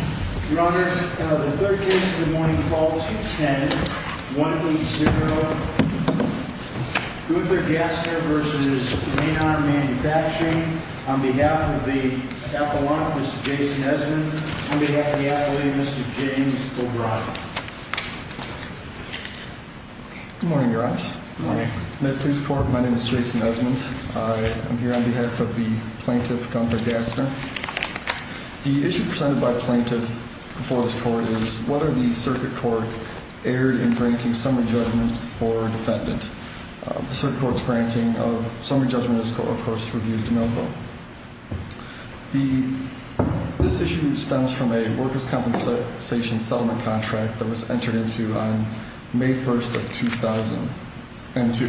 On behalf of the FAA, Mr. Jason Esmond, on behalf of the FAA, Mr. James O'Brien. Good morning, Your Honors. Good morning. May it please the Court, my name is Jason Esmond. I am here on behalf of the plaintiff, Gunther Gassner. The issue presented by the plaintiff before this Court is whether the Circuit Court erred in granting summary judgment for defendant. The Circuit Court's granting of summary judgment is, of course, reviewed to no vote. This issue stems from a workers' compensation settlement contract that was entered into on May 1st of 2002.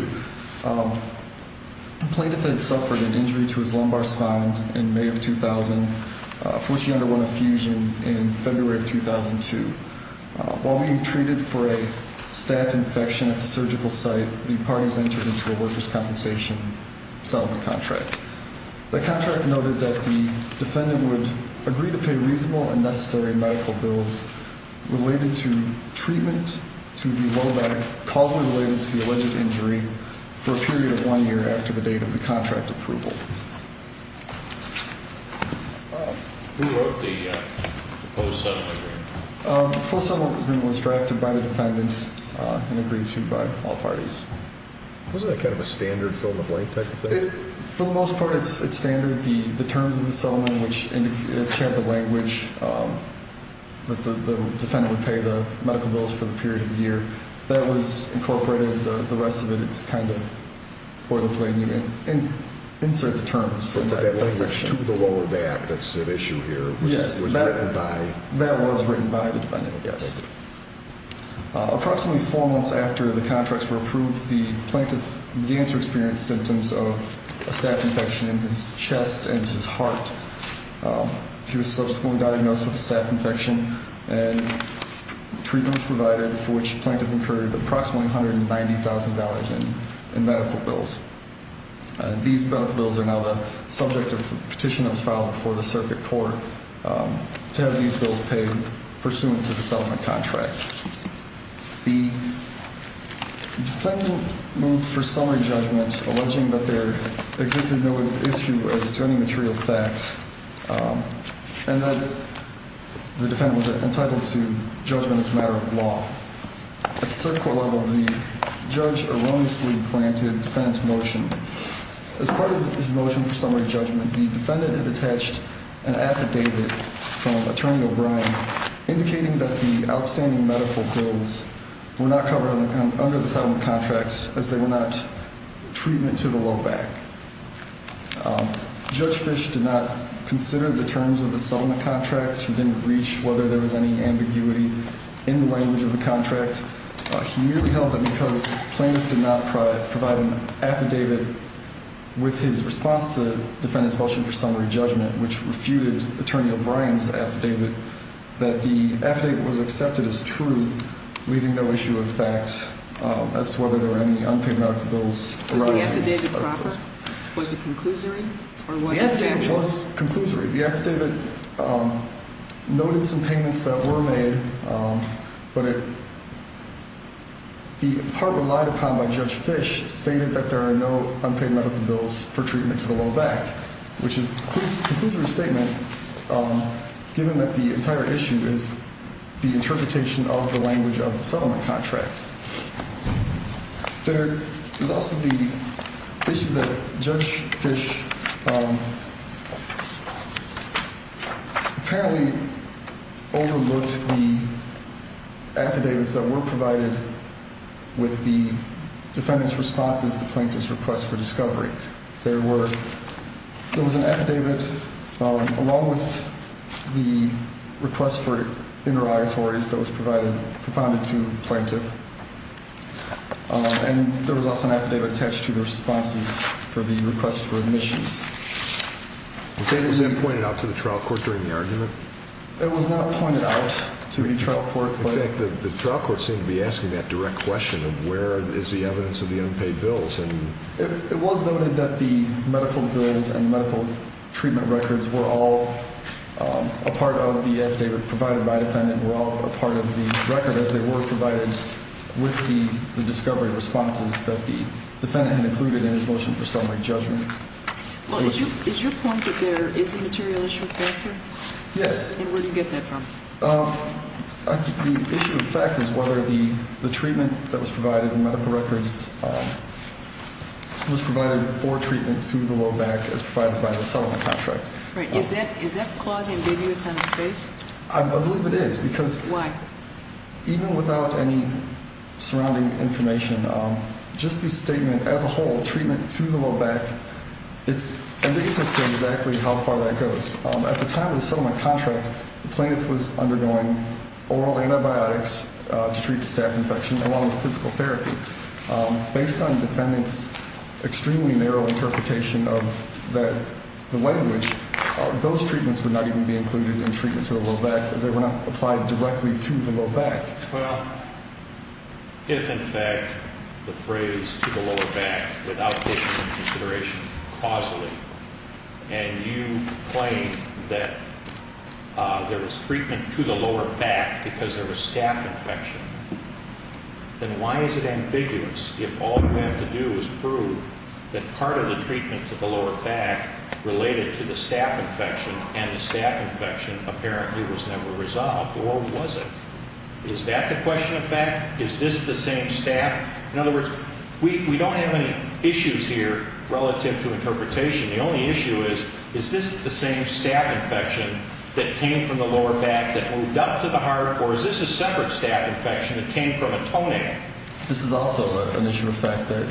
The plaintiff had suffered an injury to his lumbar spine in May of 2000 for which he underwent a fusion in February of 2002. While being treated for a staph infection at the surgical site, the parties entered into a workers' compensation settlement contract. The contract noted that the defendant would agree to pay reasonable and necessary medical bills related to treatment to the low back causally related to the alleged injury for a period of one year after the date of the contract approval. Who wrote the post-settlement agreement? The post-settlement agreement was drafted by the defendant and agreed to by all parties. Wasn't that kind of a standard fill-in-the-blank type of thing? For the most part, it's standard. The terms of the settlement, which had the language that the defendant would pay the medical bills for the period of a year, that was incorporated. The rest of it is kind of boilerplate, and you insert the terms. But that language, to the lower back, that's an issue here, was written by? That was written by the defendant, yes. Approximately four months after the contracts were approved, the plaintiff began to experience symptoms of a staph infection in his chest and his heart. He was subsequently diagnosed with a staph infection, and treatment was provided for which the plaintiff incurred approximately $190,000 in medical bills. These medical bills are now the subject of the petition that was filed before the circuit court to have these bills paid pursuant to the settlement contract. The defendant moved for summary judgment, alleging that there existed no issue as to any material facts, and that the defendant was entitled to judgment as a matter of law. At the circuit court level, the judge erroneously granted the defendant's motion. As part of his motion for summary judgment, the defendant had attached an affidavit from Attorney O'Brien indicating that the outstanding medical bills were not covered under the settlement contracts as they were not treatment to the low back. Judge Fish did not consider the terms of the settlement contracts. He didn't reach whether there was any ambiguity in the language of the contract. He merely held that because the plaintiff did not provide an affidavit with his response to the defendant's motion for summary judgment, which refuted Attorney O'Brien's affidavit, that the affidavit was accepted as true, leaving no issue of facts as to whether there were any unpaid medical bills. Was the affidavit proper? Was it conclusory? The affidavit was conclusory. The affidavit noted some payments that were made, but the part relied upon by Judge Fish stated that there are no unpaid medical bills for treatment to the low back, which is a conclusory statement given that the entire issue is the interpretation of the language of the settlement contract. There is also the issue that Judge Fish apparently overlooked the affidavits that were provided with the defendant's responses to plaintiff's request for discovery. There was an affidavit along with the request for interrogatories that was provided to the plaintiff, and there was also an affidavit attached to the responses for the request for admissions. Was it pointed out to the trial court during the argument? It was not pointed out to the trial court. In fact, the trial court seemed to be asking that direct question of where is the evidence of the unpaid bills. It was noted that the medical bills and medical treatment records were all a part of the affidavit provided by the defendant, were all a part of the record as they were provided with the discovery responses that the defendant had included in his motion for summary judgment. Is your point that there is a material issue here? Yes. And where do you get that from? The issue of fact is whether the treatment that was provided, the medical records, was provided for treatment to the low back as provided by the settlement contract. Right. Is that clause ambiguous on its face? I believe it is. Why? Because even without any surrounding information, just the statement as a whole, treatment to the low back, it's ambiguous as to exactly how far that goes. At the time of the settlement contract, the plaintiff was undergoing oral antibiotics to treat the staph infection along with physical therapy. Based on the defendant's extremely narrow interpretation of the language, those treatments would not even be included in treatment to the low back as they were not applied directly to the low back. Well, if in fact the phrase to the lower back, without taking into consideration causally, and you claim that there was treatment to the lower back because there was staph infection, then why is it ambiguous if all you have to do is prove that part of the treatment to the lower back related to the staph infection and the staph infection apparently was never resolved? Or was it? Is that the question of fact? Is this the same staph? In other words, we don't have any issues here relative to interpretation. The only issue is, is this the same staph infection that came from the lower back that moved up to the heart, or is this a separate staph infection that came from a toenail? This is also an issue of fact that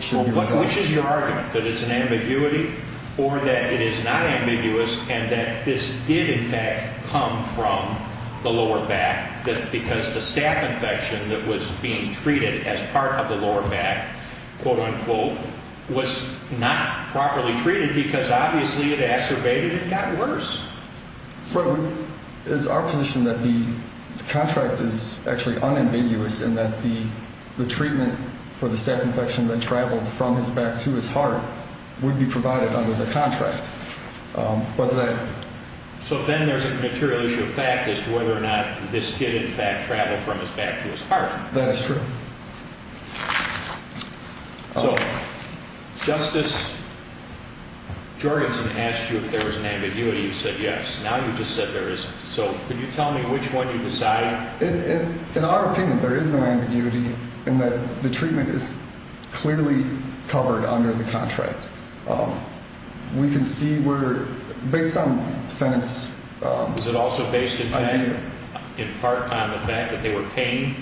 should be resolved. Which is your argument, that it's an ambiguity or that it is not ambiguous and that this did in fact come from the lower back, that because the staph infection that was being treated as part of the lower back, quote-unquote, was not properly treated because obviously it acerbated and got worse? It's our position that the contract is actually unambiguous and that the treatment for the staph infection that traveled from his back to his heart would be provided under the contract. So then there's a material issue of fact as to whether or not this did in fact travel from his back to his heart. That is true. So, Justice Jorgensen asked you if there was an ambiguity, you said yes. Now you just said there isn't. So, can you tell me which one you decided? In our opinion, there is no ambiguity in that the treatment is clearly covered under the contract. We can see where, based on defendant's idea. In part on the fact that they were paying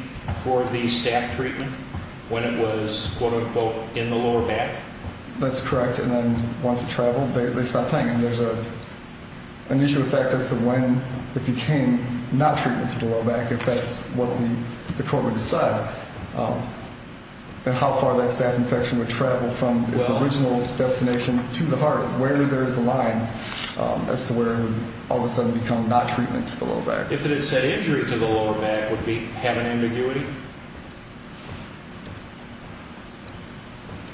for the staph treatment when it was, quote-unquote, in the lower back. That's correct. And then once it traveled, they stopped paying. And there's an issue of fact as to when it became not treatment to the lower back, if that's what the court would decide, and how far that staph infection would travel from its original destination to the heart, where there is a line as to where it would all of a sudden become not treatment to the lower back. If it had said injury to the lower back, would we have an ambiguity?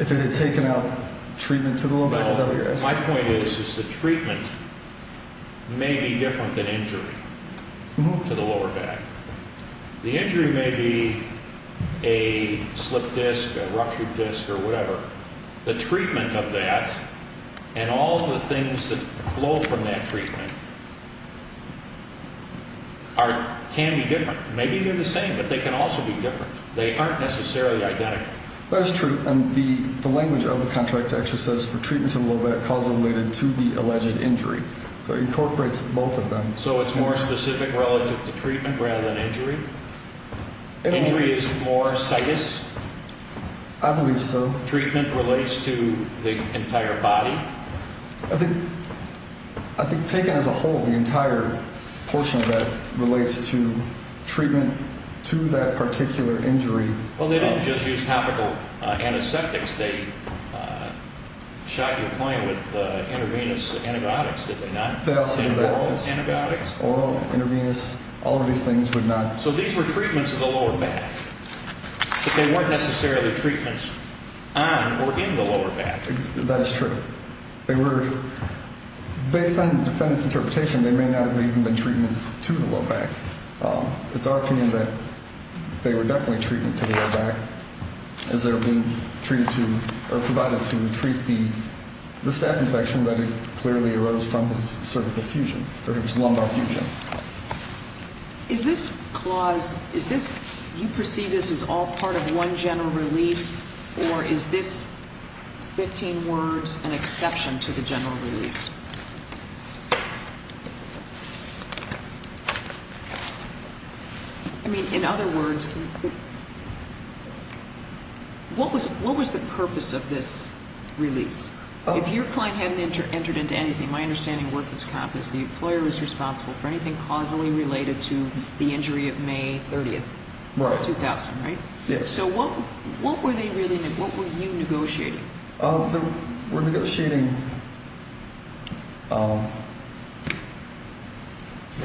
If it had taken out treatment to the lower back, is that what you're asking? My point is, is the treatment may be different than injury to the lower back. The injury may be a slipped disc, a ruptured disc, or whatever. The treatment of that and all of the things that flow from that treatment can be different. Maybe they're the same, but they can also be different. They aren't necessarily identical. That is true. And the language of the contract actually says for treatment to the lower back, cause related to the alleged injury. So it incorporates both of them. So it's more specific relative to treatment rather than injury? Injury is more situs? I believe so. So treatment relates to the entire body? I think taken as a whole, the entire portion of that relates to treatment to that particular injury. Well, they didn't just use topical antiseptics. They shot your client with intravenous antibiotics, did they not? They also did that. Oral antibiotics? Oral, intravenous, all of these things would not. So these were treatments of the lower back. But they weren't necessarily treatments on or in the lower back. That is true. They were, based on the defendant's interpretation, they may not have even been treatments to the lower back. It's our opinion that they were definitely treatment to the lower back as they were being treated to or provided to treat the staph infection that clearly arose from his cervical fusion, or his lumbar fusion. Is this clause, is this, do you perceive this as all part of one general release, or is this 15 words an exception to the general release? I mean, in other words, what was the purpose of this release? If your client hadn't entered into anything, my understanding of work was accomplished, the employer was responsible for anything causally related to the injury of May 30th, 2000, right? Yes. So what were they really, what were you negotiating? We're negotiating.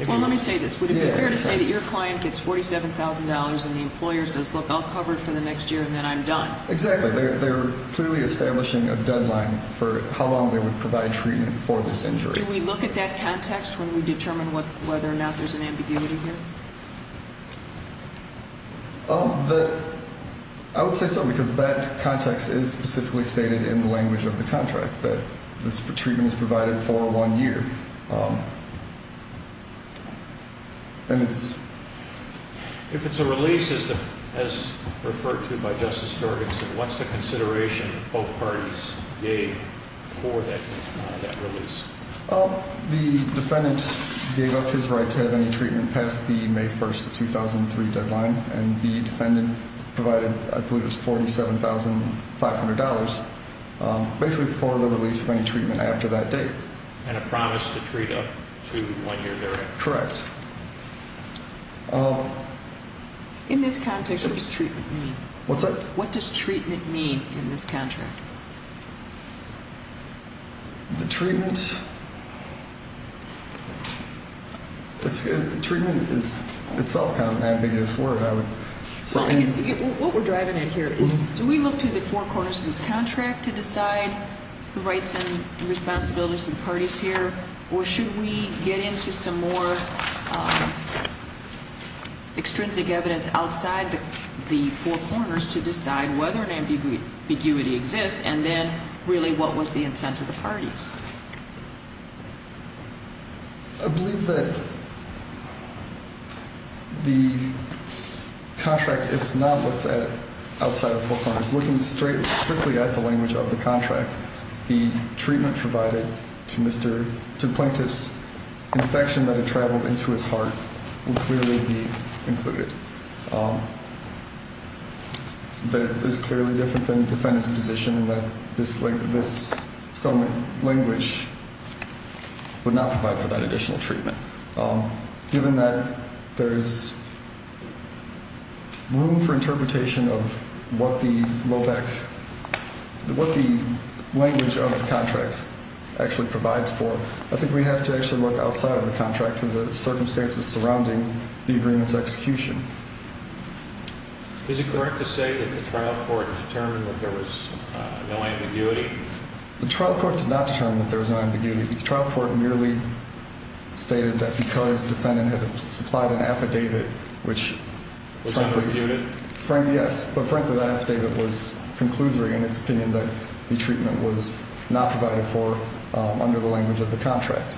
Well, let me say this. Would it be fair to say that your client gets $47,000 and the employer says, look, I'll cover it for the next year and then I'm done? Exactly. They're clearly establishing a deadline for how long they would provide treatment for this injury. Do we look at that context when we determine whether or not there's an ambiguity here? I would say so, because that context is specifically stated in the language of the contract, that this treatment was provided for one year. If it's a release, as referred to by Justice Jorgensen, what's the consideration both parties gave for that release? The defendant gave up his right to have any treatment past the May 1st, 2003 deadline, and the defendant provided, I believe it was $47,500, basically for the release of any treatment after that date. And a promise to treat up to one year, correct? Correct. In this context, what does treatment mean? What's that? What does treatment mean in this contract? The treatment? Treatment is itself kind of an ambiguous word. What we're driving at here is, do we look to the four corners of this contract to decide the rights and responsibilities of the parties here, or should we get into some more extrinsic evidence outside the four corners to decide whether an ambiguity exists, and then, really, what was the intent of the parties? I believe that the contract, if not looked at outside the four corners, looking strictly at the language of the contract, the treatment provided to Plaintiff's infection that had traveled into his heart would clearly be included. That is clearly different than the defendant's position in that this language would not provide for that additional treatment. Given that there's room for interpretation of what the language of the contract actually provides for, I think we have to actually look outside of the contract to the circumstances surrounding the agreement's execution. Is it correct to say that the trial court determined that there was no ambiguity? The trial court did not determine that there was no ambiguity. The trial court merely stated that because the defendant had supplied an affidavit, which frankly... Which I've refuted. Frankly, yes. But frankly, that affidavit was conclusory in its opinion that the treatment was not provided for under the language of the contract.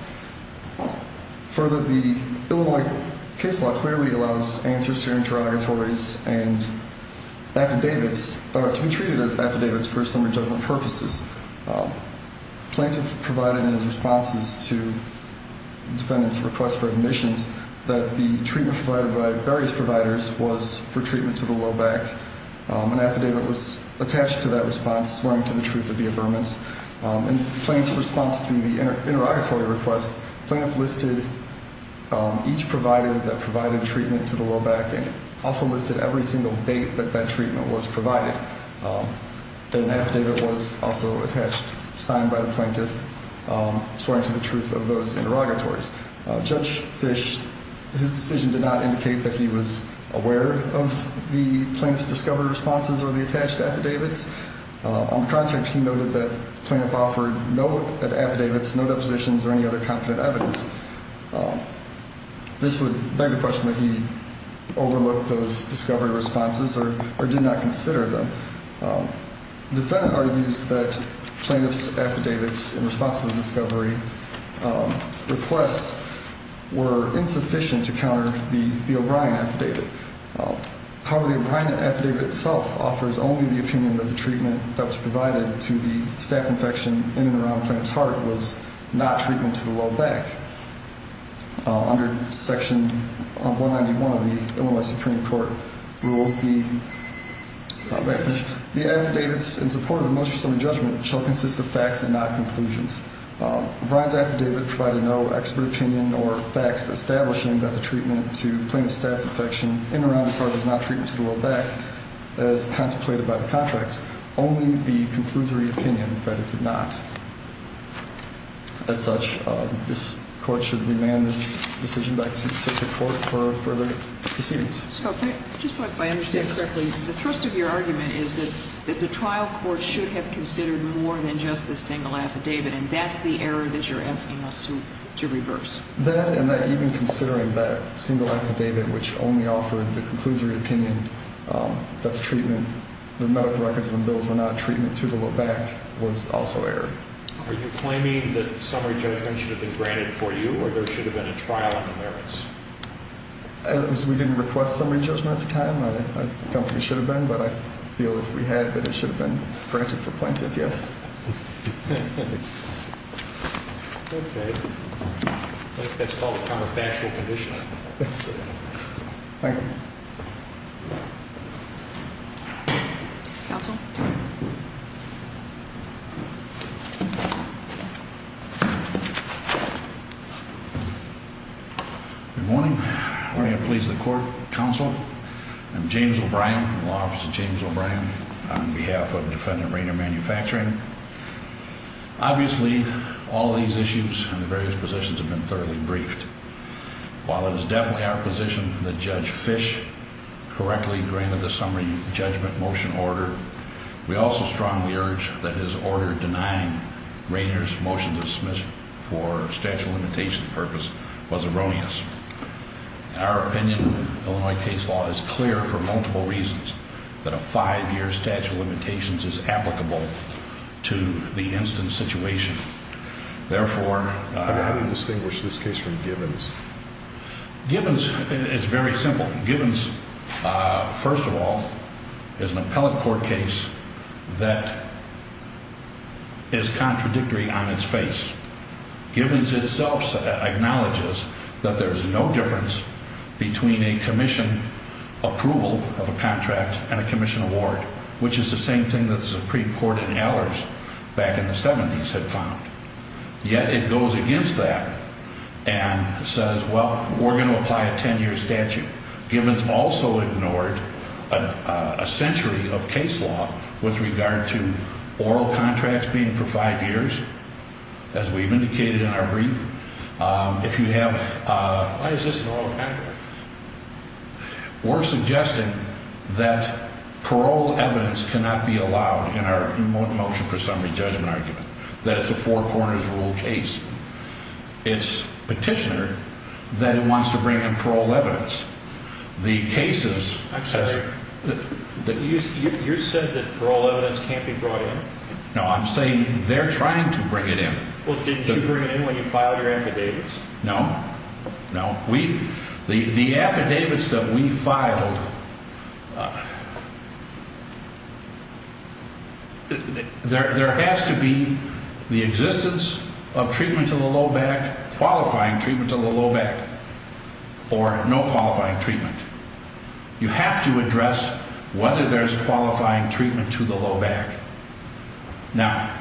Further, the Illinois case law clearly allows answers to interrogatories and affidavits to be treated as affidavits for summary judgment purposes. Plaintiff provided in his responses to the defendant's request for admissions that the treatment provided by various providers was for treatment to the low back. An affidavit was attached to that response swearing to the truth of the affirmance. In Plaintiff's response to the interrogatory request, Plaintiff listed each provider that provided treatment to the low back and also listed every single date that that treatment was provided. An affidavit was also attached, signed by the plaintiff, swearing to the truth of those interrogatories. Judge Fish, his decision did not indicate that he was aware of the plaintiff's discovered responses or the attached affidavits. On the contract, he noted that the plaintiff offered no affidavits, no depositions, or any other competent evidence. This would beg the question that he overlooked those discovery responses or did not consider them. The defendant argues that Plaintiff's affidavits in response to the discovery requests were insufficient to counter the O'Brien affidavit. However, the O'Brien affidavit itself offers only the opinion that the treatment that was provided to the staph infection in and around Plaintiff's heart was not treatment to the low back. Under section 191 of the Illinois Supreme Court rules, the affidavits in support of the most reasonable judgment shall consist of facts and not conclusions. O'Brien's affidavit provided no expert opinion or facts establishing that the treatment to Plaintiff's staph infection in and around his heart was not treatment to the low back, as contemplated by the contract, only the conclusory opinion that it did not. As such, this court should remand this decision back to the Supreme Court for further proceedings. Just so I understand correctly, the thrust of your argument is that the trial court should have considered more than just this single affidavit, and that's the error that you're asking us to reverse. That and that even considering that single affidavit, which only offered the conclusory opinion that the medical records and the bills were not treatment to the low back was also error. Are you claiming that summary judgment should have been granted for you, or there should have been a trial on the merits? We didn't request summary judgment at the time. I don't think it should have been, but I feel if we had, that it should have been granted for Plaintiff, yes. Okay. That's called a counterfactual condition. Thank you. Counsel. Okay. Good morning. I'm going to please the court. Counsel. I'm James O'Brien, Law Office of James O'Brien, on behalf of Defendant Rainier Manufacturing. Obviously, all these issues and the various positions have been thoroughly briefed. While it was definitely our position that Judge Fish correctly granted the summary judgment motion order, we also strongly urge that his order denying Rainier's motion to dismiss for statute of limitations purpose was erroneous. In our opinion, Illinois case law is clear for multiple reasons that a five-year statute of limitations is applicable to the instant situation. How do you distinguish this case from Gibbons? Gibbons is very simple. Gibbons, first of all, is an appellate court case that is contradictory on its face. Gibbons itself acknowledges that there's no difference between a commission approval of a contract and a commission award, which is the same thing that the Supreme Court in Allers back in the 70s had found. Yet, it goes against that and says, well, we're going to apply a ten-year statute. Gibbons also ignored a century of case law with regard to oral contracts being for five years, as we've indicated in our brief. Why is this an oral contract? We're suggesting that parole evidence cannot be allowed in our motion for summary judgment argument, that it's a four corners rule case. It's a petitioner that wants to bring in parole evidence. I'm sorry, you said that parole evidence can't be brought in? No, I'm saying they're trying to bring it in. Well, didn't you bring it in when you filed your affidavits? No, no. The affidavits that we filed, there has to be the existence of treatment to the low back, qualifying treatment to the low back, or no qualifying treatment. You have to address whether there's qualifying treatment to the low back. Now,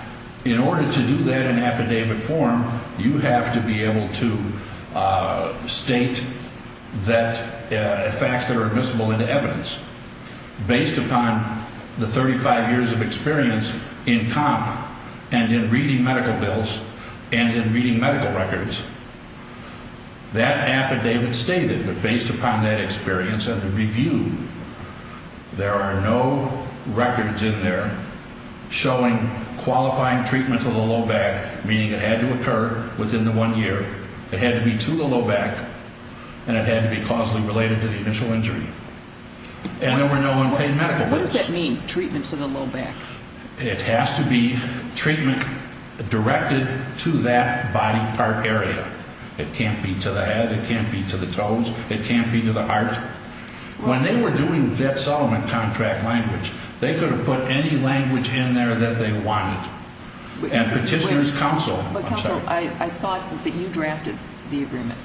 in order to do that in affidavit form, you have to be able to state that facts that are admissible into evidence. Based upon the 35 years of experience in comp and in reading medical bills and in reading medical records, that affidavit stated that based upon that experience and the review, there are no records in there showing qualifying treatment to the low back, meaning it had to occur within the one year. It had to be to the low back, and it had to be causally related to the initial injury. And there were no unpaid medical bills. What does that mean, treatment to the low back? It has to be treatment directed to that body part area. It can't be to the head, it can't be to the toes, it can't be to the heart. When they were doing that Solomon contract language, they could have put any language in there that they wanted. And Petitioner's counsel, I'm sorry. But counsel, I thought that you drafted the agreement.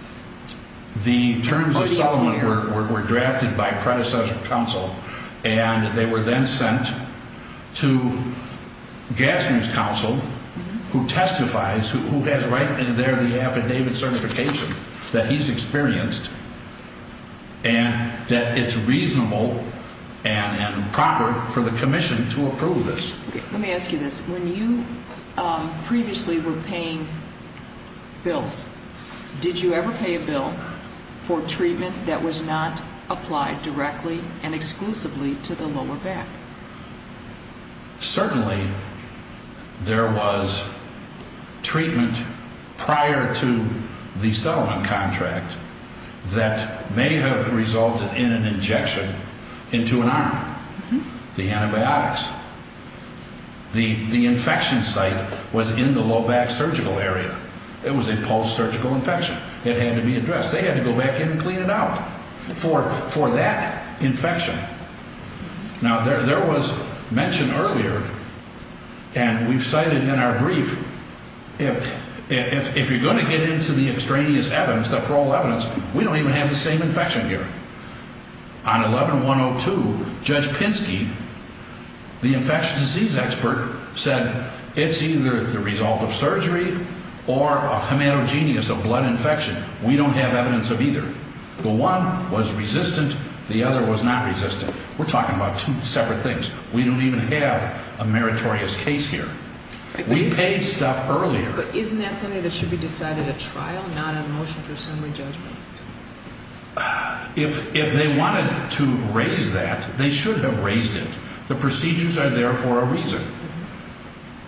The terms of Solomon were drafted by predecessor counsel, and they were then sent to Gassner's counsel, who testifies, who has right in there the affidavit certification that he's experienced. And that it's reasonable and proper for the commission to approve this. Let me ask you this. When you previously were paying bills, did you ever pay a bill for treatment that was not applied directly and exclusively to the lower back? Certainly, there was treatment prior to the Solomon contract that may have resulted in an injection into an arm, the antibiotics. The infection site was in the low back surgical area. It was a post-surgical infection. It had to be addressed. They had to go back in and clean it out for that infection. Now, there was mention earlier, and we've cited in our brief, if you're going to get into the extraneous evidence, the parole evidence, we don't even have the same infection here. On 11-102, Judge Pinsky, the infection disease expert, said it's either the result of surgery or a hematogenous, a blood infection. We don't have evidence of either. The one was resistant. The other was not resistant. We're talking about two separate things. We don't even have a meritorious case here. We paid stuff earlier. But isn't that something that should be decided at trial, not on motion for assembly judgment? If they wanted to raise that, they should have raised it. The procedures are there for a reason.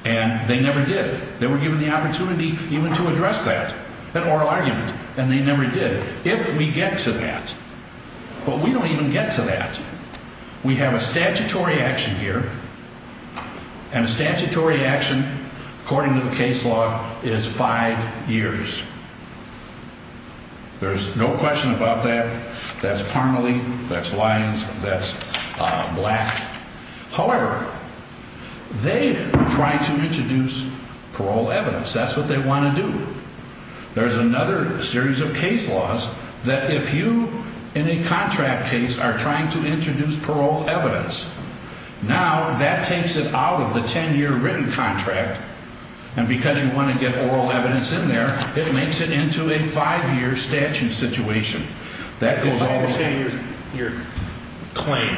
And they never did. They were given the opportunity even to address that, an oral argument, and they never did. And we get to that. But we don't even get to that. We have a statutory action here, and a statutory action, according to the case law, is five years. There's no question about that. That's Parmelee. That's Lyons. That's Black. However, they tried to introduce parole evidence. That's what they want to do. There's another series of case laws that if you, in a contract case, are trying to introduce parole evidence, now that takes it out of the ten-year written contract, and because you want to get oral evidence in there, it makes it into a five-year statute situation. That goes all the way... I understand your claim.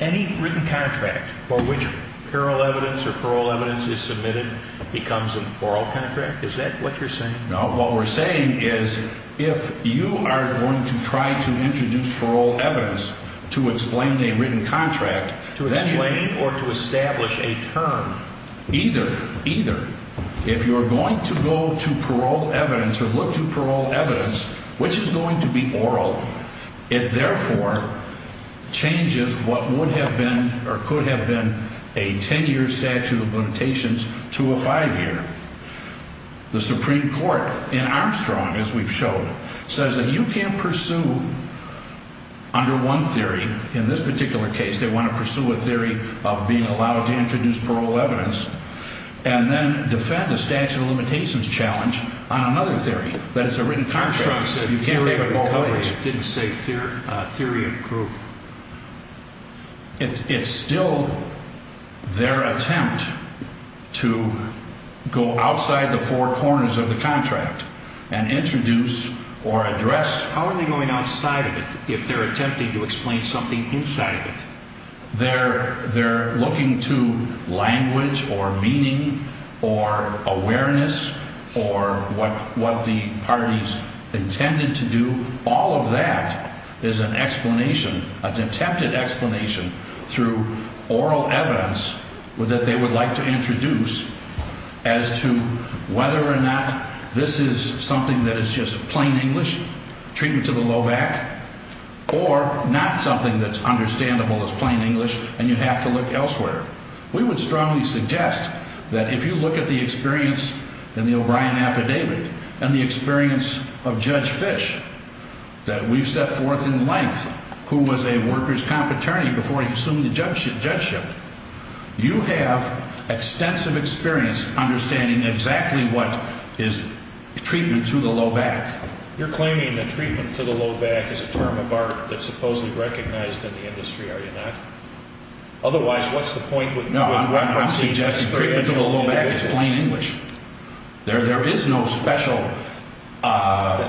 Any written contract for which parole evidence is submitted becomes a parole contract? Is that what you're saying? What I'm saying is if you are going to try to introduce parole evidence to explain a written contract... To explain or to establish a term. Either. Either. If you're going to go to parole evidence or look to parole evidence, which is going to be oral, it therefore changes what would have been or could have been a ten-year statute of limitations to a five-year. The Supreme Court, in Armstrong, as we've shown, says that you can't pursue, under one theory, in this particular case, they want to pursue a theory of being allowed to introduce parole evidence, and then defend a statute of limitations challenge on another theory. That it's a written contract. Armstrong said theory of proof didn't say theory of proof. It's still their attempt to go outside the four corners of the contract and introduce or address... How are they going outside of it if they're attempting to explain something inside of it? They're looking to language or meaning or awareness or what the parties intended to do. All of that is an explanation, an attempted explanation, through oral evidence that they would like to introduce as to whether or not this is something that is just plain English, treatment to the low back, or not something that's understandable as plain English and you have to look elsewhere. We would strongly suggest that if you look at the experience in the O'Brien affidavit and the experience of Judge Fish that we've set forth in length, who was a workers' comp attorney before he assumed the judgeship, you have extensive experience understanding exactly what is treatment to the low back. You're claiming that treatment to the low back is a term of art that's supposedly recognized in the industry, are you not? Otherwise, what's the point with... No, I'm not suggesting treatment to the low back is plain English. There is no special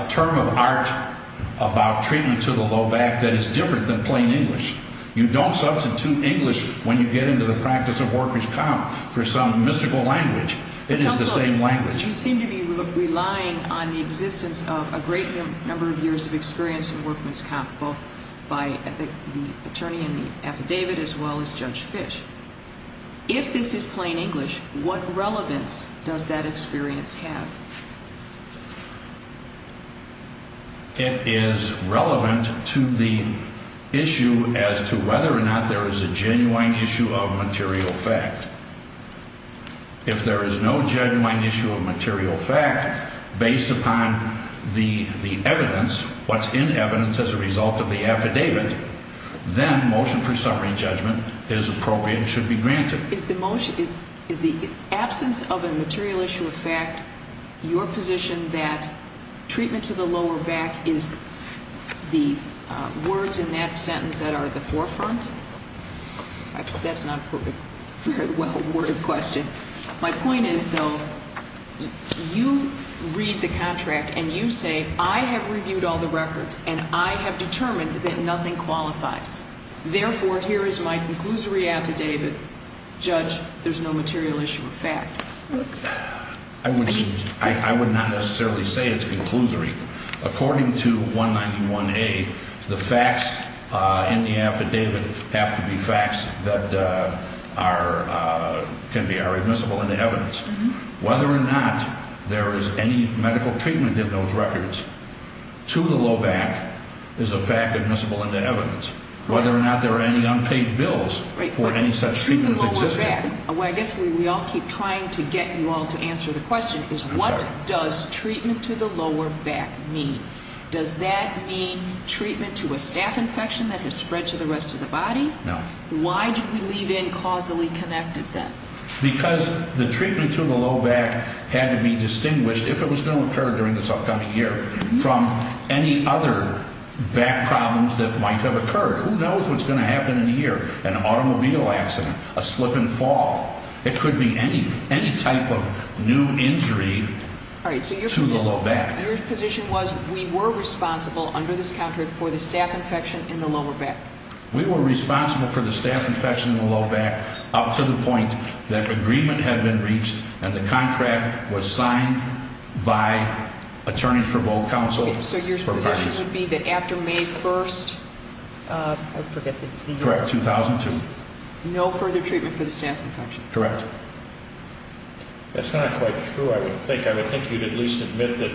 term of art about treatment to the low back that is different than plain English. You don't substitute English when you get into the practice of workers' comp for some mystical language. It is the same language. You seem to be relying on the existence of a great number of years of experience in workers' comp both by the attorney in the affidavit as well as Judge Fish. If this is plain English, what relevance does that experience have? It is relevant to the issue as to whether or not there is a genuine issue of material fact. If there is no genuine issue of material fact based upon the evidence, what's in evidence as a result of the affidavit, then motion for summary judgment is appropriate and should be granted. Is the absence of a material issue of fact your position that treatment to the lower back is the words in that sentence that are at the forefront? That's not a very well-worded question. My point is, though, you read the contract and you say, I have reviewed all the records and I have determined that nothing qualifies. Therefore, here is my conclusory affidavit. Judge, there's no material issue of fact. I would not necessarily say it's conclusory. According to 191A, the facts in the affidavit have to be facts that can be admissible in the evidence. Whether or not there is any medical treatment in those records to the low back is a fact admissible in the evidence. Whether or not there are any unpaid bills for any such treatment of existence. I guess we all keep trying to get you all to answer the question. What does treatment to the lower back mean? Does that mean treatment to a staph infection that has spread to the rest of the body? No. Why do we leave in causally connected then? Because the treatment to the low back had to be distinguished, if it was going to occur during this upcoming year, from any other back problems that might have occurred. Who knows what's going to happen in a year? An automobile accident, a slip and fall. It could be any type of new injury to the low back. Your position was, we were responsible under this contract for the staph infection in the lower back. We were responsible for the staph infection in the low back up to the point that agreement had been reached and the contract was signed by attorneys for both counsels. So your position would be that after May 1st, I forget the year. Correct, 2002. No further treatment for the staph infection. Correct. That's not quite true, I would think. I would think you would at least admit that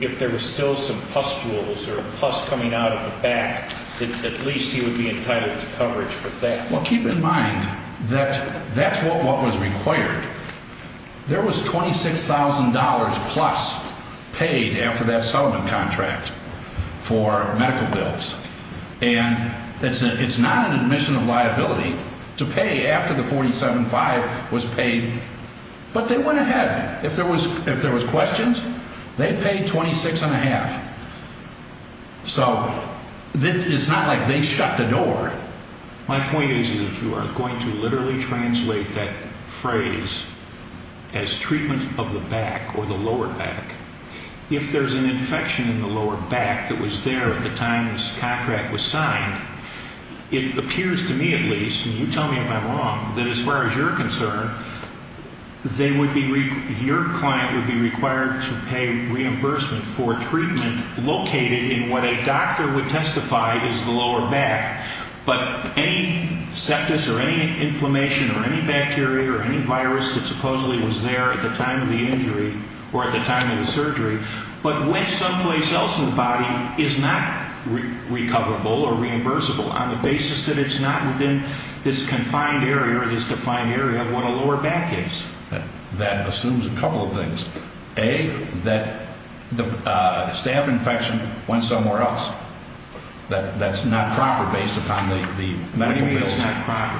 if there were still some pustules or pus coming out of the back, that at least you would be entitled to coverage for that. Well, keep in mind that that's what was required. There was $26,000 plus paid after that settlement contract for medical bills. And it's not an admission of liability to pay after the 47-5 was paid. But they went ahead. If there was questions, they paid $26,500. $26,500. So it's not like they shut the door. My point is that you are going to literally translate that phrase as treatment of the back or the lower back. If there's an infection in the lower back that was there at the time this contract was signed, it appears to me at least, and you tell me if I'm wrong, that as far as you're concerned, your client would be required to pay reimbursement for treatment located in what a doctor would testify is the lower back. But any septus or any inflammation or any bacteria or any virus that supposedly was there at the time of the injury or at the time of the surgery, but went someplace else in the body, is not recoverable or reimbursable on the basis that it's not within this confined area or this defined area where the lower back is. That assumes a couple of things. A, that the staph infection went somewhere else. That's not proper based upon the medical bills. Maybe it's not proper.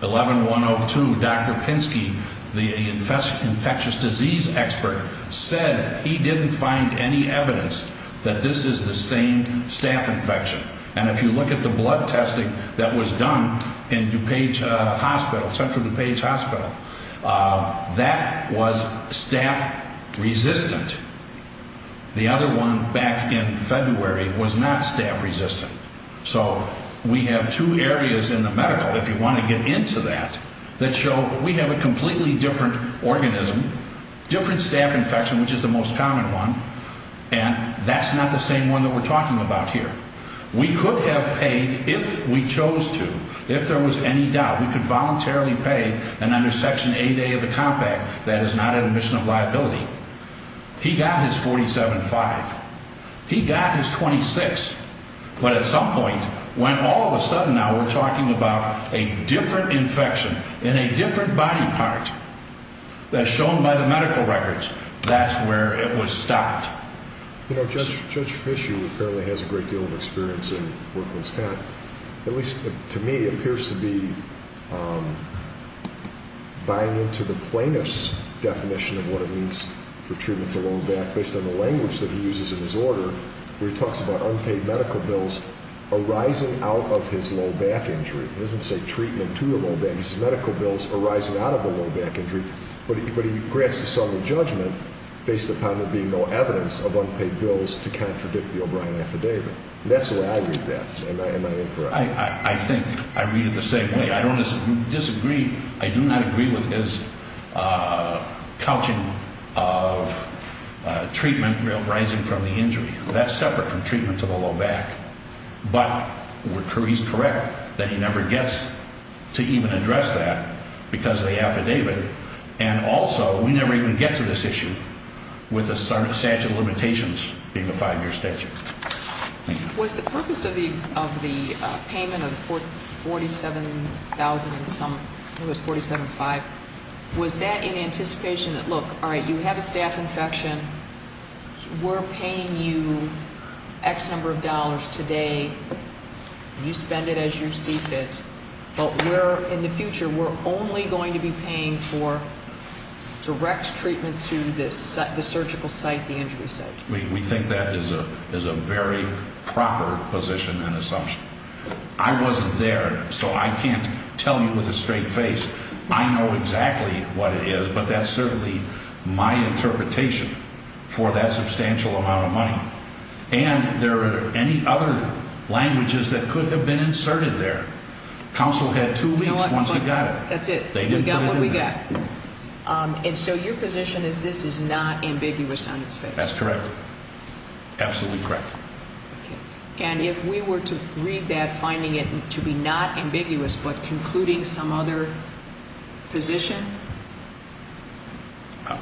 11-102, Dr. Pinsky, the infectious disease expert, said he didn't find any evidence that this is the same staph infection. And if you look at the blood testing that was done in central DuPage Hospital, that was staph-resistant. The other one back in February was not staph-resistant. So we have two areas in the medical, if you want to get into that, that show we have a completely different organism, different staph infection, which is the most common one, and that's not the same one that we're talking about here. We could have paid, if we chose to, if there was any doubt, we could voluntarily pay and under Section 8A of the Compact, that is not an admission of liability. He got his 47-5. He got his 26. But at some point, when all of a sudden now we're talking about a different infection in a different body part that's shown by the medical records, that's where it was stopped. You know, Judge Fischu apparently has a great deal of experience in workman's cat. At least to me, it appears to be buying into the plaintiff's definition of what it means for treatment to low back based on the language that he uses in his order, where he talks about unpaid medical bills arising out of his low back injury. He doesn't say treatment to the low back, he says medical bills arising out of the low back injury. But he grants the sum of judgment based upon there being no evidence of unpaid bills to contradict the O'Brien affidavit. That's the way I read that, am I incorrect? I think I read it the same way. I don't disagree. I do not agree with his couching of treatment arising from the injury. That's separate from treatment to the low back. But he's correct that he never gets to even address that because of the affidavit. And also, we never even get to this issue with a statute of limitations being a five-year statute. Was the purpose of the payment of $47,000 in sum, it was $47,500, was that in anticipation that, look, all right, you have a staph infection, we're paying you X number of dollars today, you spend it as your CFIT, but we're, in the future, we're only going to be paying for direct treatment to the surgical site, the injury site. We think that is a very proper position and assumption. I wasn't there, so I can't tell you with a straight face. I know exactly what it is, but that's certainly my interpretation for that substantial amount of money. And there are any other languages that could have been inserted there. Counsel had two weeks once he got it. That's it. We got what we got. And so your position is this is not ambiguous on its face. That's correct. Absolutely correct. And if we were to read that finding it to be not ambiguous but concluding some other position?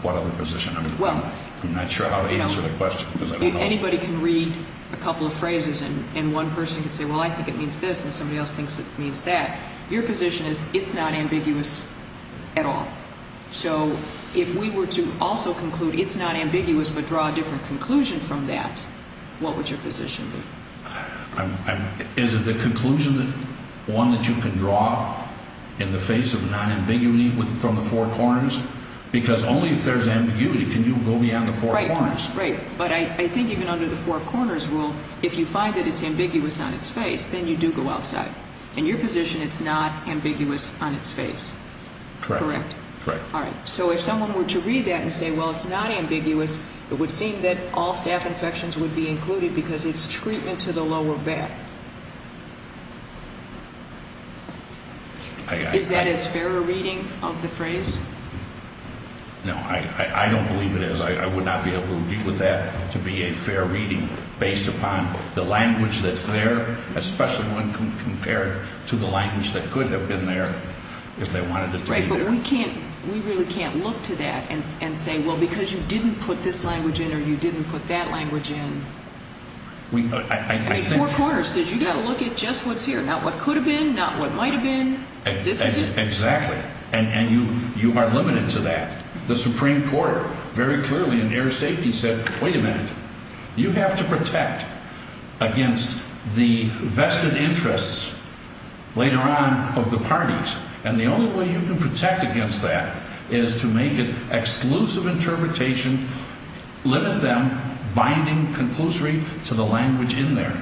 What other position? I'm not sure how to answer the question. If anybody can read a couple of phrases and one person can say, well, I think it means this, and somebody else thinks it means that, your position is it's not ambiguous at all. So if we were to also conclude it's not ambiguous but draw a different conclusion from that, what would your position be? Is it the conclusion that one that you can draw in the face of non-ambiguity from the four corners? Because only if there's ambiguity can you go beyond the four corners. Right. But I think even under the four corners rule, if you find that it's ambiguous on its face, then you do go outside. In your position, it's not ambiguous on its face. Correct. Correct. All right. So if someone were to read that and say, well, it's not ambiguous, it would seem that all staph infections would be included because it's treatment to the lower back. Is that as fair a reading of the phrase? No. I don't believe it is. I would not be able to agree with that to be a fair reading based upon the language that's there, especially when compared to the language that could have been there if they wanted it to be there. Right. But we really can't look to that and say, well, because you didn't put this language in or you didn't put that language in. I mean, four corners says you've got to look at just what's here, not what could have been, not what might have been. Exactly. And you are limited to that. The Supreme Court very clearly in air safety said, wait a minute, you have to protect against the vested interests later on of the parties. And the only way you can protect against that is to make an exclusive interpretation, limit them, binding conclusory to the language in there.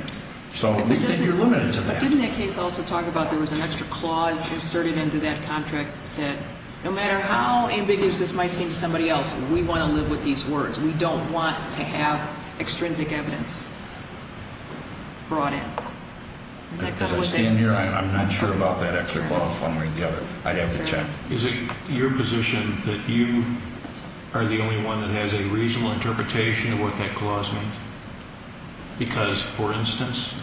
So we think you're limited to that. But didn't that case also talk about there was an extra clause inserted into that contract that said, no matter how ambiguous this might seem to somebody else, we want to live with these words. We don't want to have extrinsic evidence brought in. As I stand here, I'm not sure about that extra clause one way or the other. I'd have to check. Is it your position that you are the only one that has a reasonable interpretation of what that clause means? Because, for instance,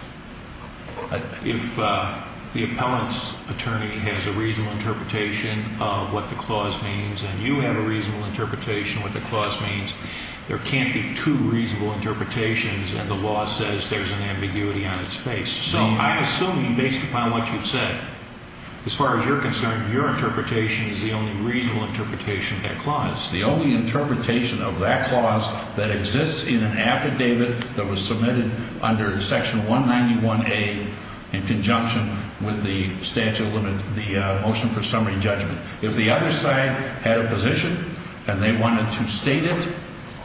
if the appellant's attorney has a reasonable interpretation of what the clause means and you have a reasonable interpretation of what the clause means, there can't be two reasonable interpretations and the law says there's an ambiguity on its face. So I assume, based upon what you've said, as far as you're concerned, your interpretation is the only reasonable interpretation of that clause. The only interpretation of that clause that exists in an affidavit that was submitted under Section 191A in conjunction with the statute of limit, the motion for summary judgment. If the other side had a position and they wanted to state it,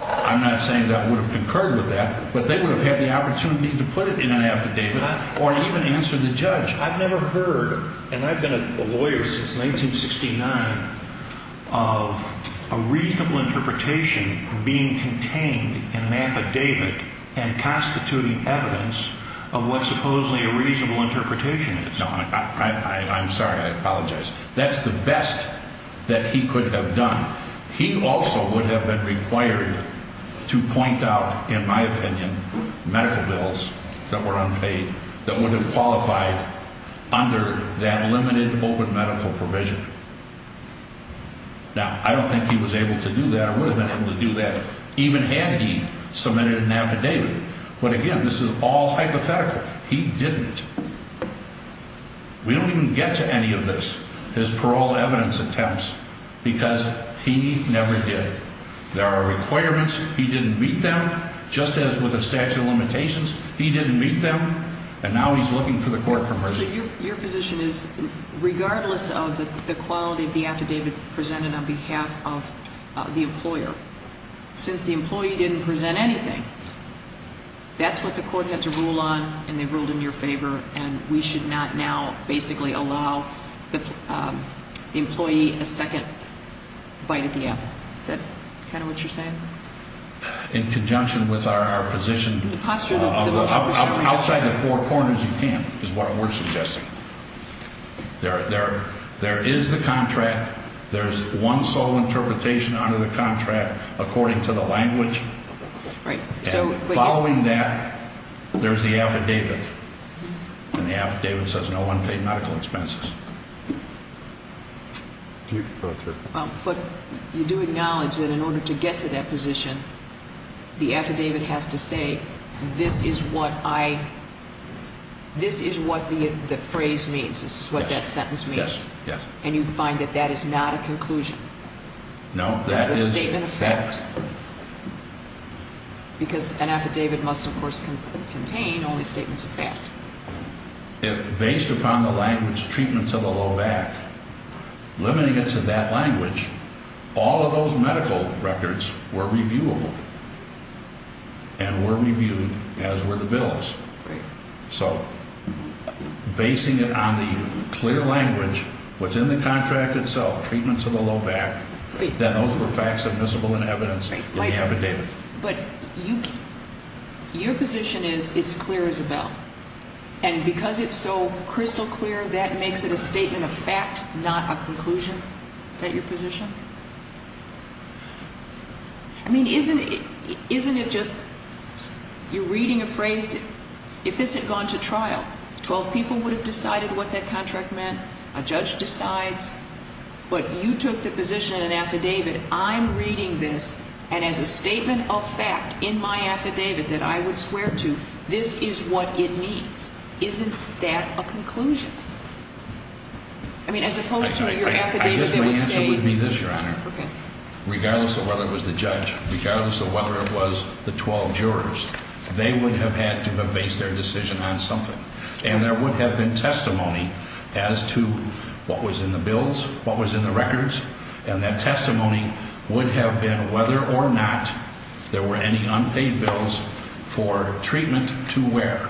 I'm not saying that would have concurred with that, but they would have had the opportunity to put it in an affidavit or even answer the judge. I've never heard, and I've been a lawyer since 1969, of a reasonable interpretation being contained in an affidavit and constituting evidence of what supposedly a reasonable interpretation is. No, I'm sorry. I apologize. That's the best that he could have done. He also would have been required to point out, in my opinion, medical bills that were unpaid that would have qualified under that limited open medical provision. Now, I don't think he was able to do that or would have been able to do that even had he submitted an affidavit. But again, this is all hypothetical. He didn't. We don't even get to any of this, his parole evidence attempts, because he never did. There are requirements, he didn't meet them, just as with the statute of limitations, he didn't meet them, and now he's looking for the court for mercy. So your position is, regardless of the quality of the affidavit presented on behalf of the employer, since the employee didn't present anything, that's what the court had to rule on, and they ruled in your favor, and we should not now basically allow the employee a second bite at the apple. Is that kind of what you're saying? In conjunction with our position, outside the four corners, you can't, is what we're suggesting. There is the contract, there's one sole interpretation under the contract, according to the language. And following that, there's the affidavit, and the affidavit says no unpaid medical expenses. But you do acknowledge that in order to get to that position, the affidavit has to say, this is what I, this is what the phrase means, this is what that sentence means. And you find that that is not a conclusion. No, that is fact. That's a statement of fact. Because an affidavit must, of course, contain only statements of fact. Based upon the language, treatment to the low back, limiting it to that language, all of those medical records were reviewable, and were reviewed as were the bills. So, basing it on the clear language, what's in the contract itself, treatment to the low back, that those were facts admissible in evidence in the affidavit. But your position is, it's clear as a bell. And because it's so crystal clear, that makes it a statement of fact, not a conclusion. Is that your position? I mean, isn't it, isn't it just, you're reading a phrase, if this had gone to trial, 12 people would have decided what that contract meant, a judge decides. But you took the position in an affidavit, I'm reading this, and as a statement of fact in my affidavit that I would swear to, this is what it means. I mean, as opposed to your affidavit, it would say... I guess my answer would be this, Your Honor. Regardless of whether it was the judge, regardless of whether it was the 12 jurors, they would have had to have based their decision on something. And there would have been testimony as to what was in the bills, what was in the records, and that testimony would have been whether or not there were any unpaid bills for treatment to where?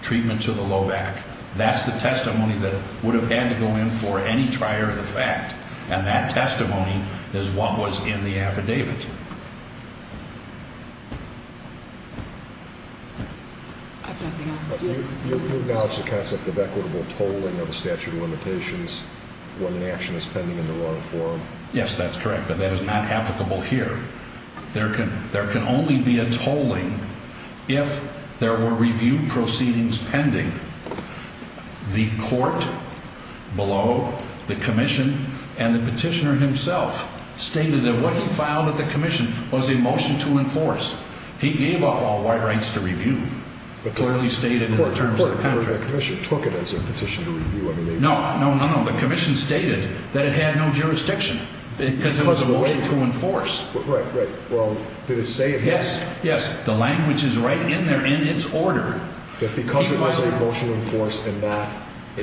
Treatment to the low back. That's the testimony that would have had to go in for any trier of the fact. And that testimony is what was in the affidavit. I have nothing else to do. You acknowledge the concept of equitable tolling of a statute of limitations when an action is pending in the wrong form? Yes, that's correct, but that is not applicable here. There can only be a tolling if there were review proceedings pending. The court below, the commission, and the petitioner himself stated that what he filed at the commission was a motion to enforce. He gave up all white rights to review. But clearly stated in the terms of the contract. The commission took it as a petition to review. No, no, no, the commission stated that it had no jurisdiction because it was a motion to enforce. Right, well, did it say it had? Yes, yes, the language is right in there in its order. That because it was a motion to enforce and not a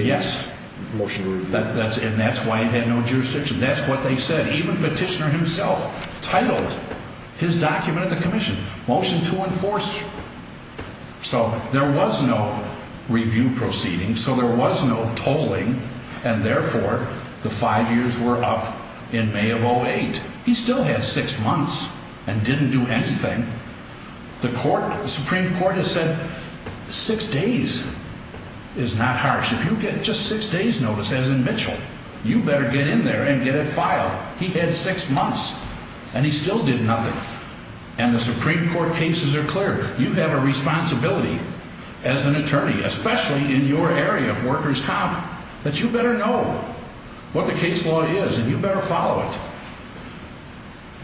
motion to review. Yes, and that's why it had no jurisdiction. That's what they said. Even the petitioner himself titled his document at the commission, Motion to Enforce. So there was no review proceeding, so there was no tolling, and therefore the five years were up in May of 08. He still had six months and didn't do anything. The Supreme Court has said six days is not harsh. If you get just six days notice, as in Mitchell, you better get in there and get it filed. He had six months and he still did nothing. And the Supreme Court cases are clear. You have a responsibility as an attorney, especially in your area of workers' comp, that you better know what the case law is and you better follow it.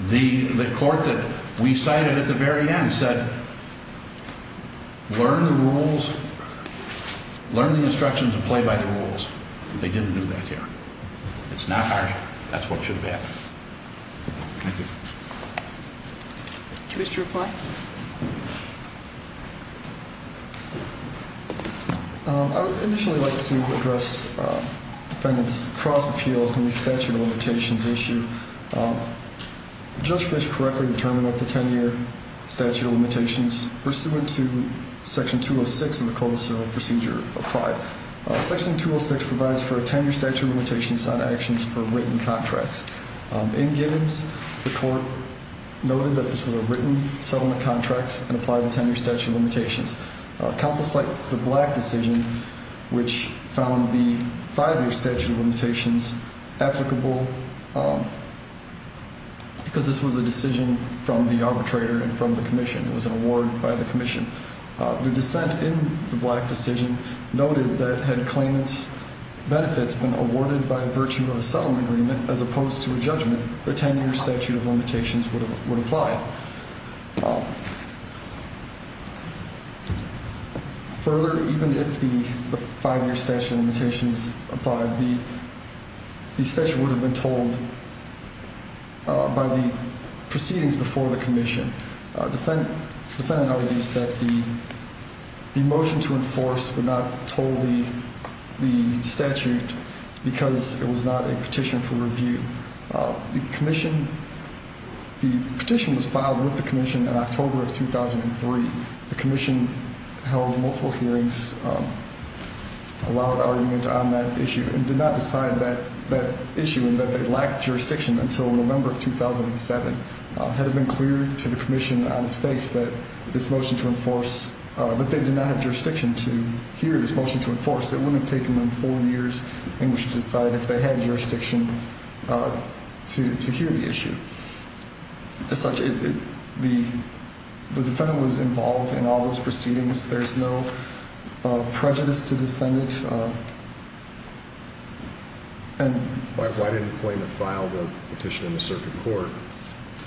The court that we cited at the very end said learn the rules, learn the instructions and play by the rules. They didn't do that here. It's not harsh. That's what should have happened. Thank you. Commissioner McClatchy. I would initially like to address defendants' cross-appeal in the statute of limitations issue. Judge Fish correctly determined that the 10-year statute of limitations pursuant to Section 206 of the Code of Serial Procedure applied. Section 206 provides for a 10-year statute of limitations on actions for written contracts. In Gibbons, the court noted that this was a written settlement contract and applied the 10-year statute of limitations. Counsel slights the Black decision, which found the five-year statute of limitations applicable because this was a decision from the arbitrator and from the commission. It was an award by the commission. The dissent in the Black decision noted that had claimant's benefits been awarded by virtue of a settlement agreement as opposed to a judgment, the 10-year statute of limitations would apply. Further, even if the five-year statute of limitations applied, the statute would have been told by the proceedings before the commission. Defendant argues that the motion to enforce would not toll the statute because it was not a petition for review. The petition was filed with the commission in October of 2003. The commission held multiple hearings, a loud argument on that issue, and did not decide that issue and that they lacked jurisdiction until November of 2007. Had it been clear to the commission on its face that this motion to enforce, that they did not have jurisdiction to hear this motion to enforce, it wouldn't have taken them four years in which to decide if they had jurisdiction to hear the issue. As such, the defendant was involved in all those proceedings. There's no prejudice to defendant. Why didn't the plaintiff file the petition in the circuit court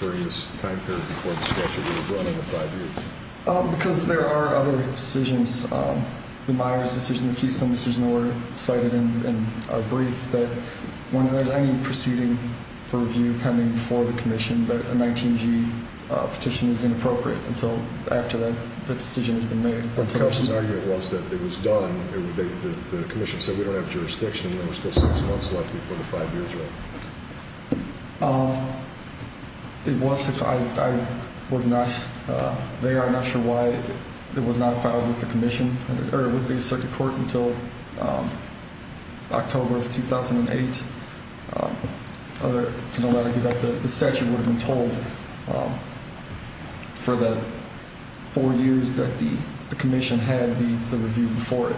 during this time period before the statute would have run in the five years? Because there are other decisions. The Myers decision, the Keystone decision were cited in our brief that when there's any proceeding for review pending before the commission, that a 19-G petition is inappropriate until after the decision has been made. The commission said we don't have jurisdiction and there were still six months left before the five years run. It was, I was not, they are not sure why it was not filed with the commission or with the circuit court until October of 2008. To no matter the statute would have been told for the four years that the commission had the review before it.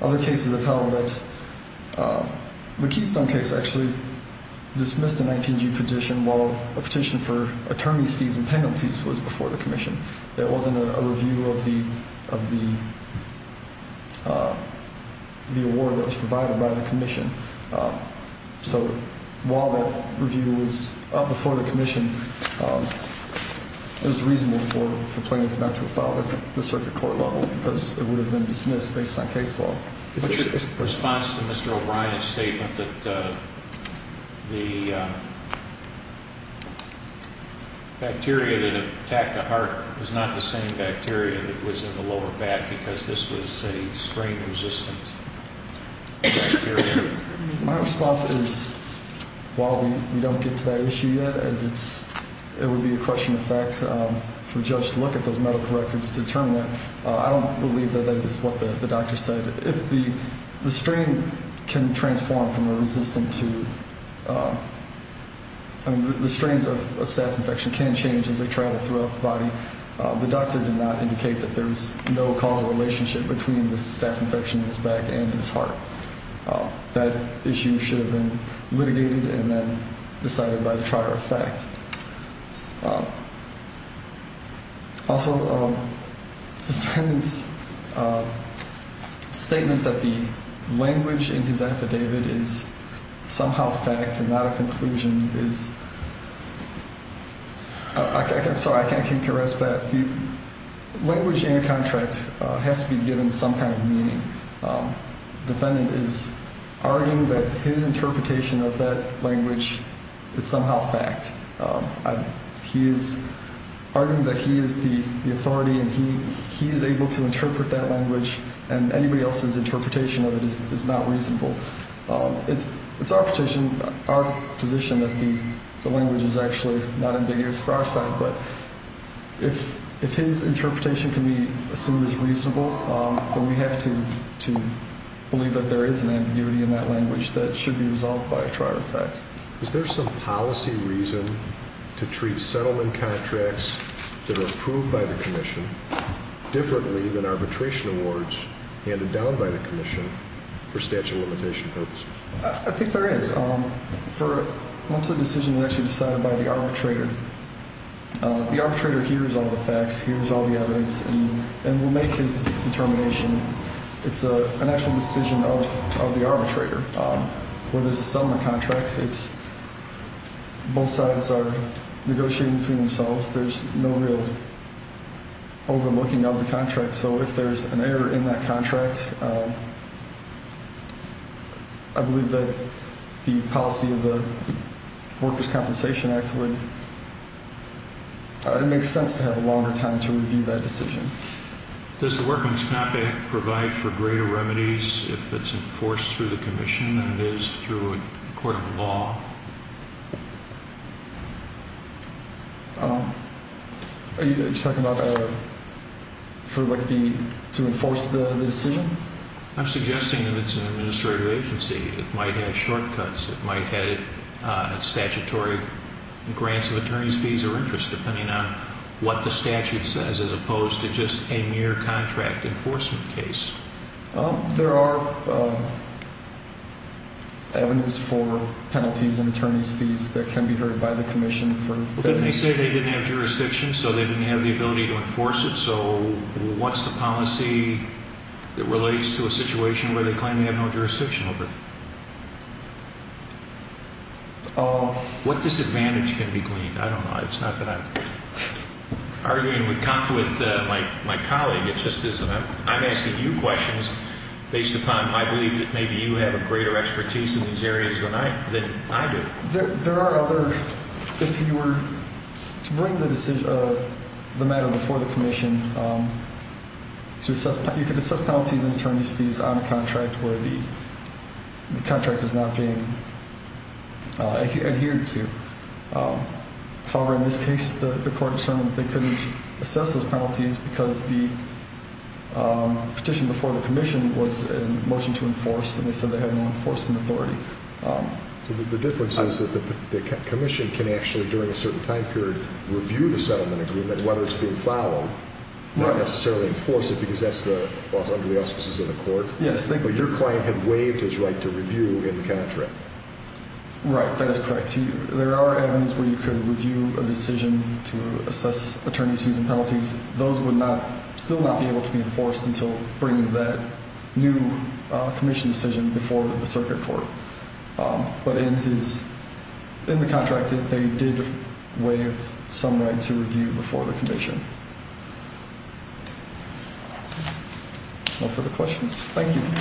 Other cases have held that the Keystone case actually dismissed a 19-G petition while a petition for attorney's fees and penalties was before the commission. There wasn't a review of the award that was provided by the commission. So while the review was up before the commission, it was reasonable for the plaintiff not to file at the circuit court level because it would have been dismissed based on case law. In response to Mr. O'Brien's statement that the bacteria that attacked the heart was not the same bacteria that was in the lower back because this was a strain-resistant bacteria. My response is while we don't get to that issue yet, as it would be a crushing effect for a judge to look at those medical records to determine that, I don't believe that that is what the doctor said. The strain can transform from a resistant to, I mean the strains of staph infection can change as they travel throughout the body. The doctor did not indicate that there is no causal relationship between the staph infection in his back and his heart. That issue should have been litigated and then decided by the trial of fact. Also, the defendant's statement that the language in his affidavit is somehow fact and not a conclusion is, I'm sorry, I can't concur, but the language in your contract has to be given some kind of meaning. The defendant is arguing that his interpretation of that language is somehow fact. He is arguing that he is the authority and he is able to interpret that language and anybody else's interpretation of it is not reasonable. It's our position that the language is actually not ambiguous for our side, but if his interpretation can be assumed as reasonable, then we have to believe that there is an ambiguity in that language that should be resolved by a trial of fact. Is there some policy reason to treat settlement contracts that are approved by the commission differently than arbitration awards handed down by the commission for statute of limitation purposes? I think there is. Once a decision is actually decided by the arbitrator, the arbitrator hears all the facts, hears all the evidence, and will make his determination. It's an actual decision of the arbitrator. When there's a settlement contract, both sides are negotiating between themselves. There's no real overlooking of the contract. So if there's an error in that contract, I believe that the policy of the Workers' Compensation Act would make sense to have a longer time to review that decision. Does the Workers' Compensation Act provide for greater remedies if it's enforced through the commission than it is through a court of law? Are you talking about to enforce the decision? I'm suggesting that it's an administrative agency. It might have shortcuts. It might have statutory grants of attorney's fees or interest, depending on what the statute says, as opposed to just a mere contract enforcement case. There are avenues for penalties and attorney's fees that can be heard by the commission. Didn't they say they didn't have jurisdiction, so they didn't have the ability to enforce it? So what's the policy that relates to a situation where they claim they have no jurisdiction over it? What disadvantage can be claimed? I don't know. It's not that I'm arguing with my colleague. It just isn't. I'm asking you questions based upon my belief that maybe you have a greater expertise in these areas than I do. If you were to bring the matter before the commission, you could assess penalties and attorney's fees on a contract where the contract is not being adhered to. However, in this case, the court determined that they couldn't assess those penalties because the petition before the commission was a motion to enforce, and they said they had no enforcement authority. So the difference is that the commission can actually, during a certain time period, review the settlement agreement, whether it's being followed, not necessarily enforce it because that's under the auspices of the court. Yes. But your client had waived his right to review in the contract. Right. That is correct. There are avenues where you could review a decision to assess attorney's fees and penalties. Those would still not be able to be enforced until bringing that new commission decision before the circuit court. But in the contract, they did waive some right to review before the commission. No further questions? Thank you. Thank you, Mr. Chairman.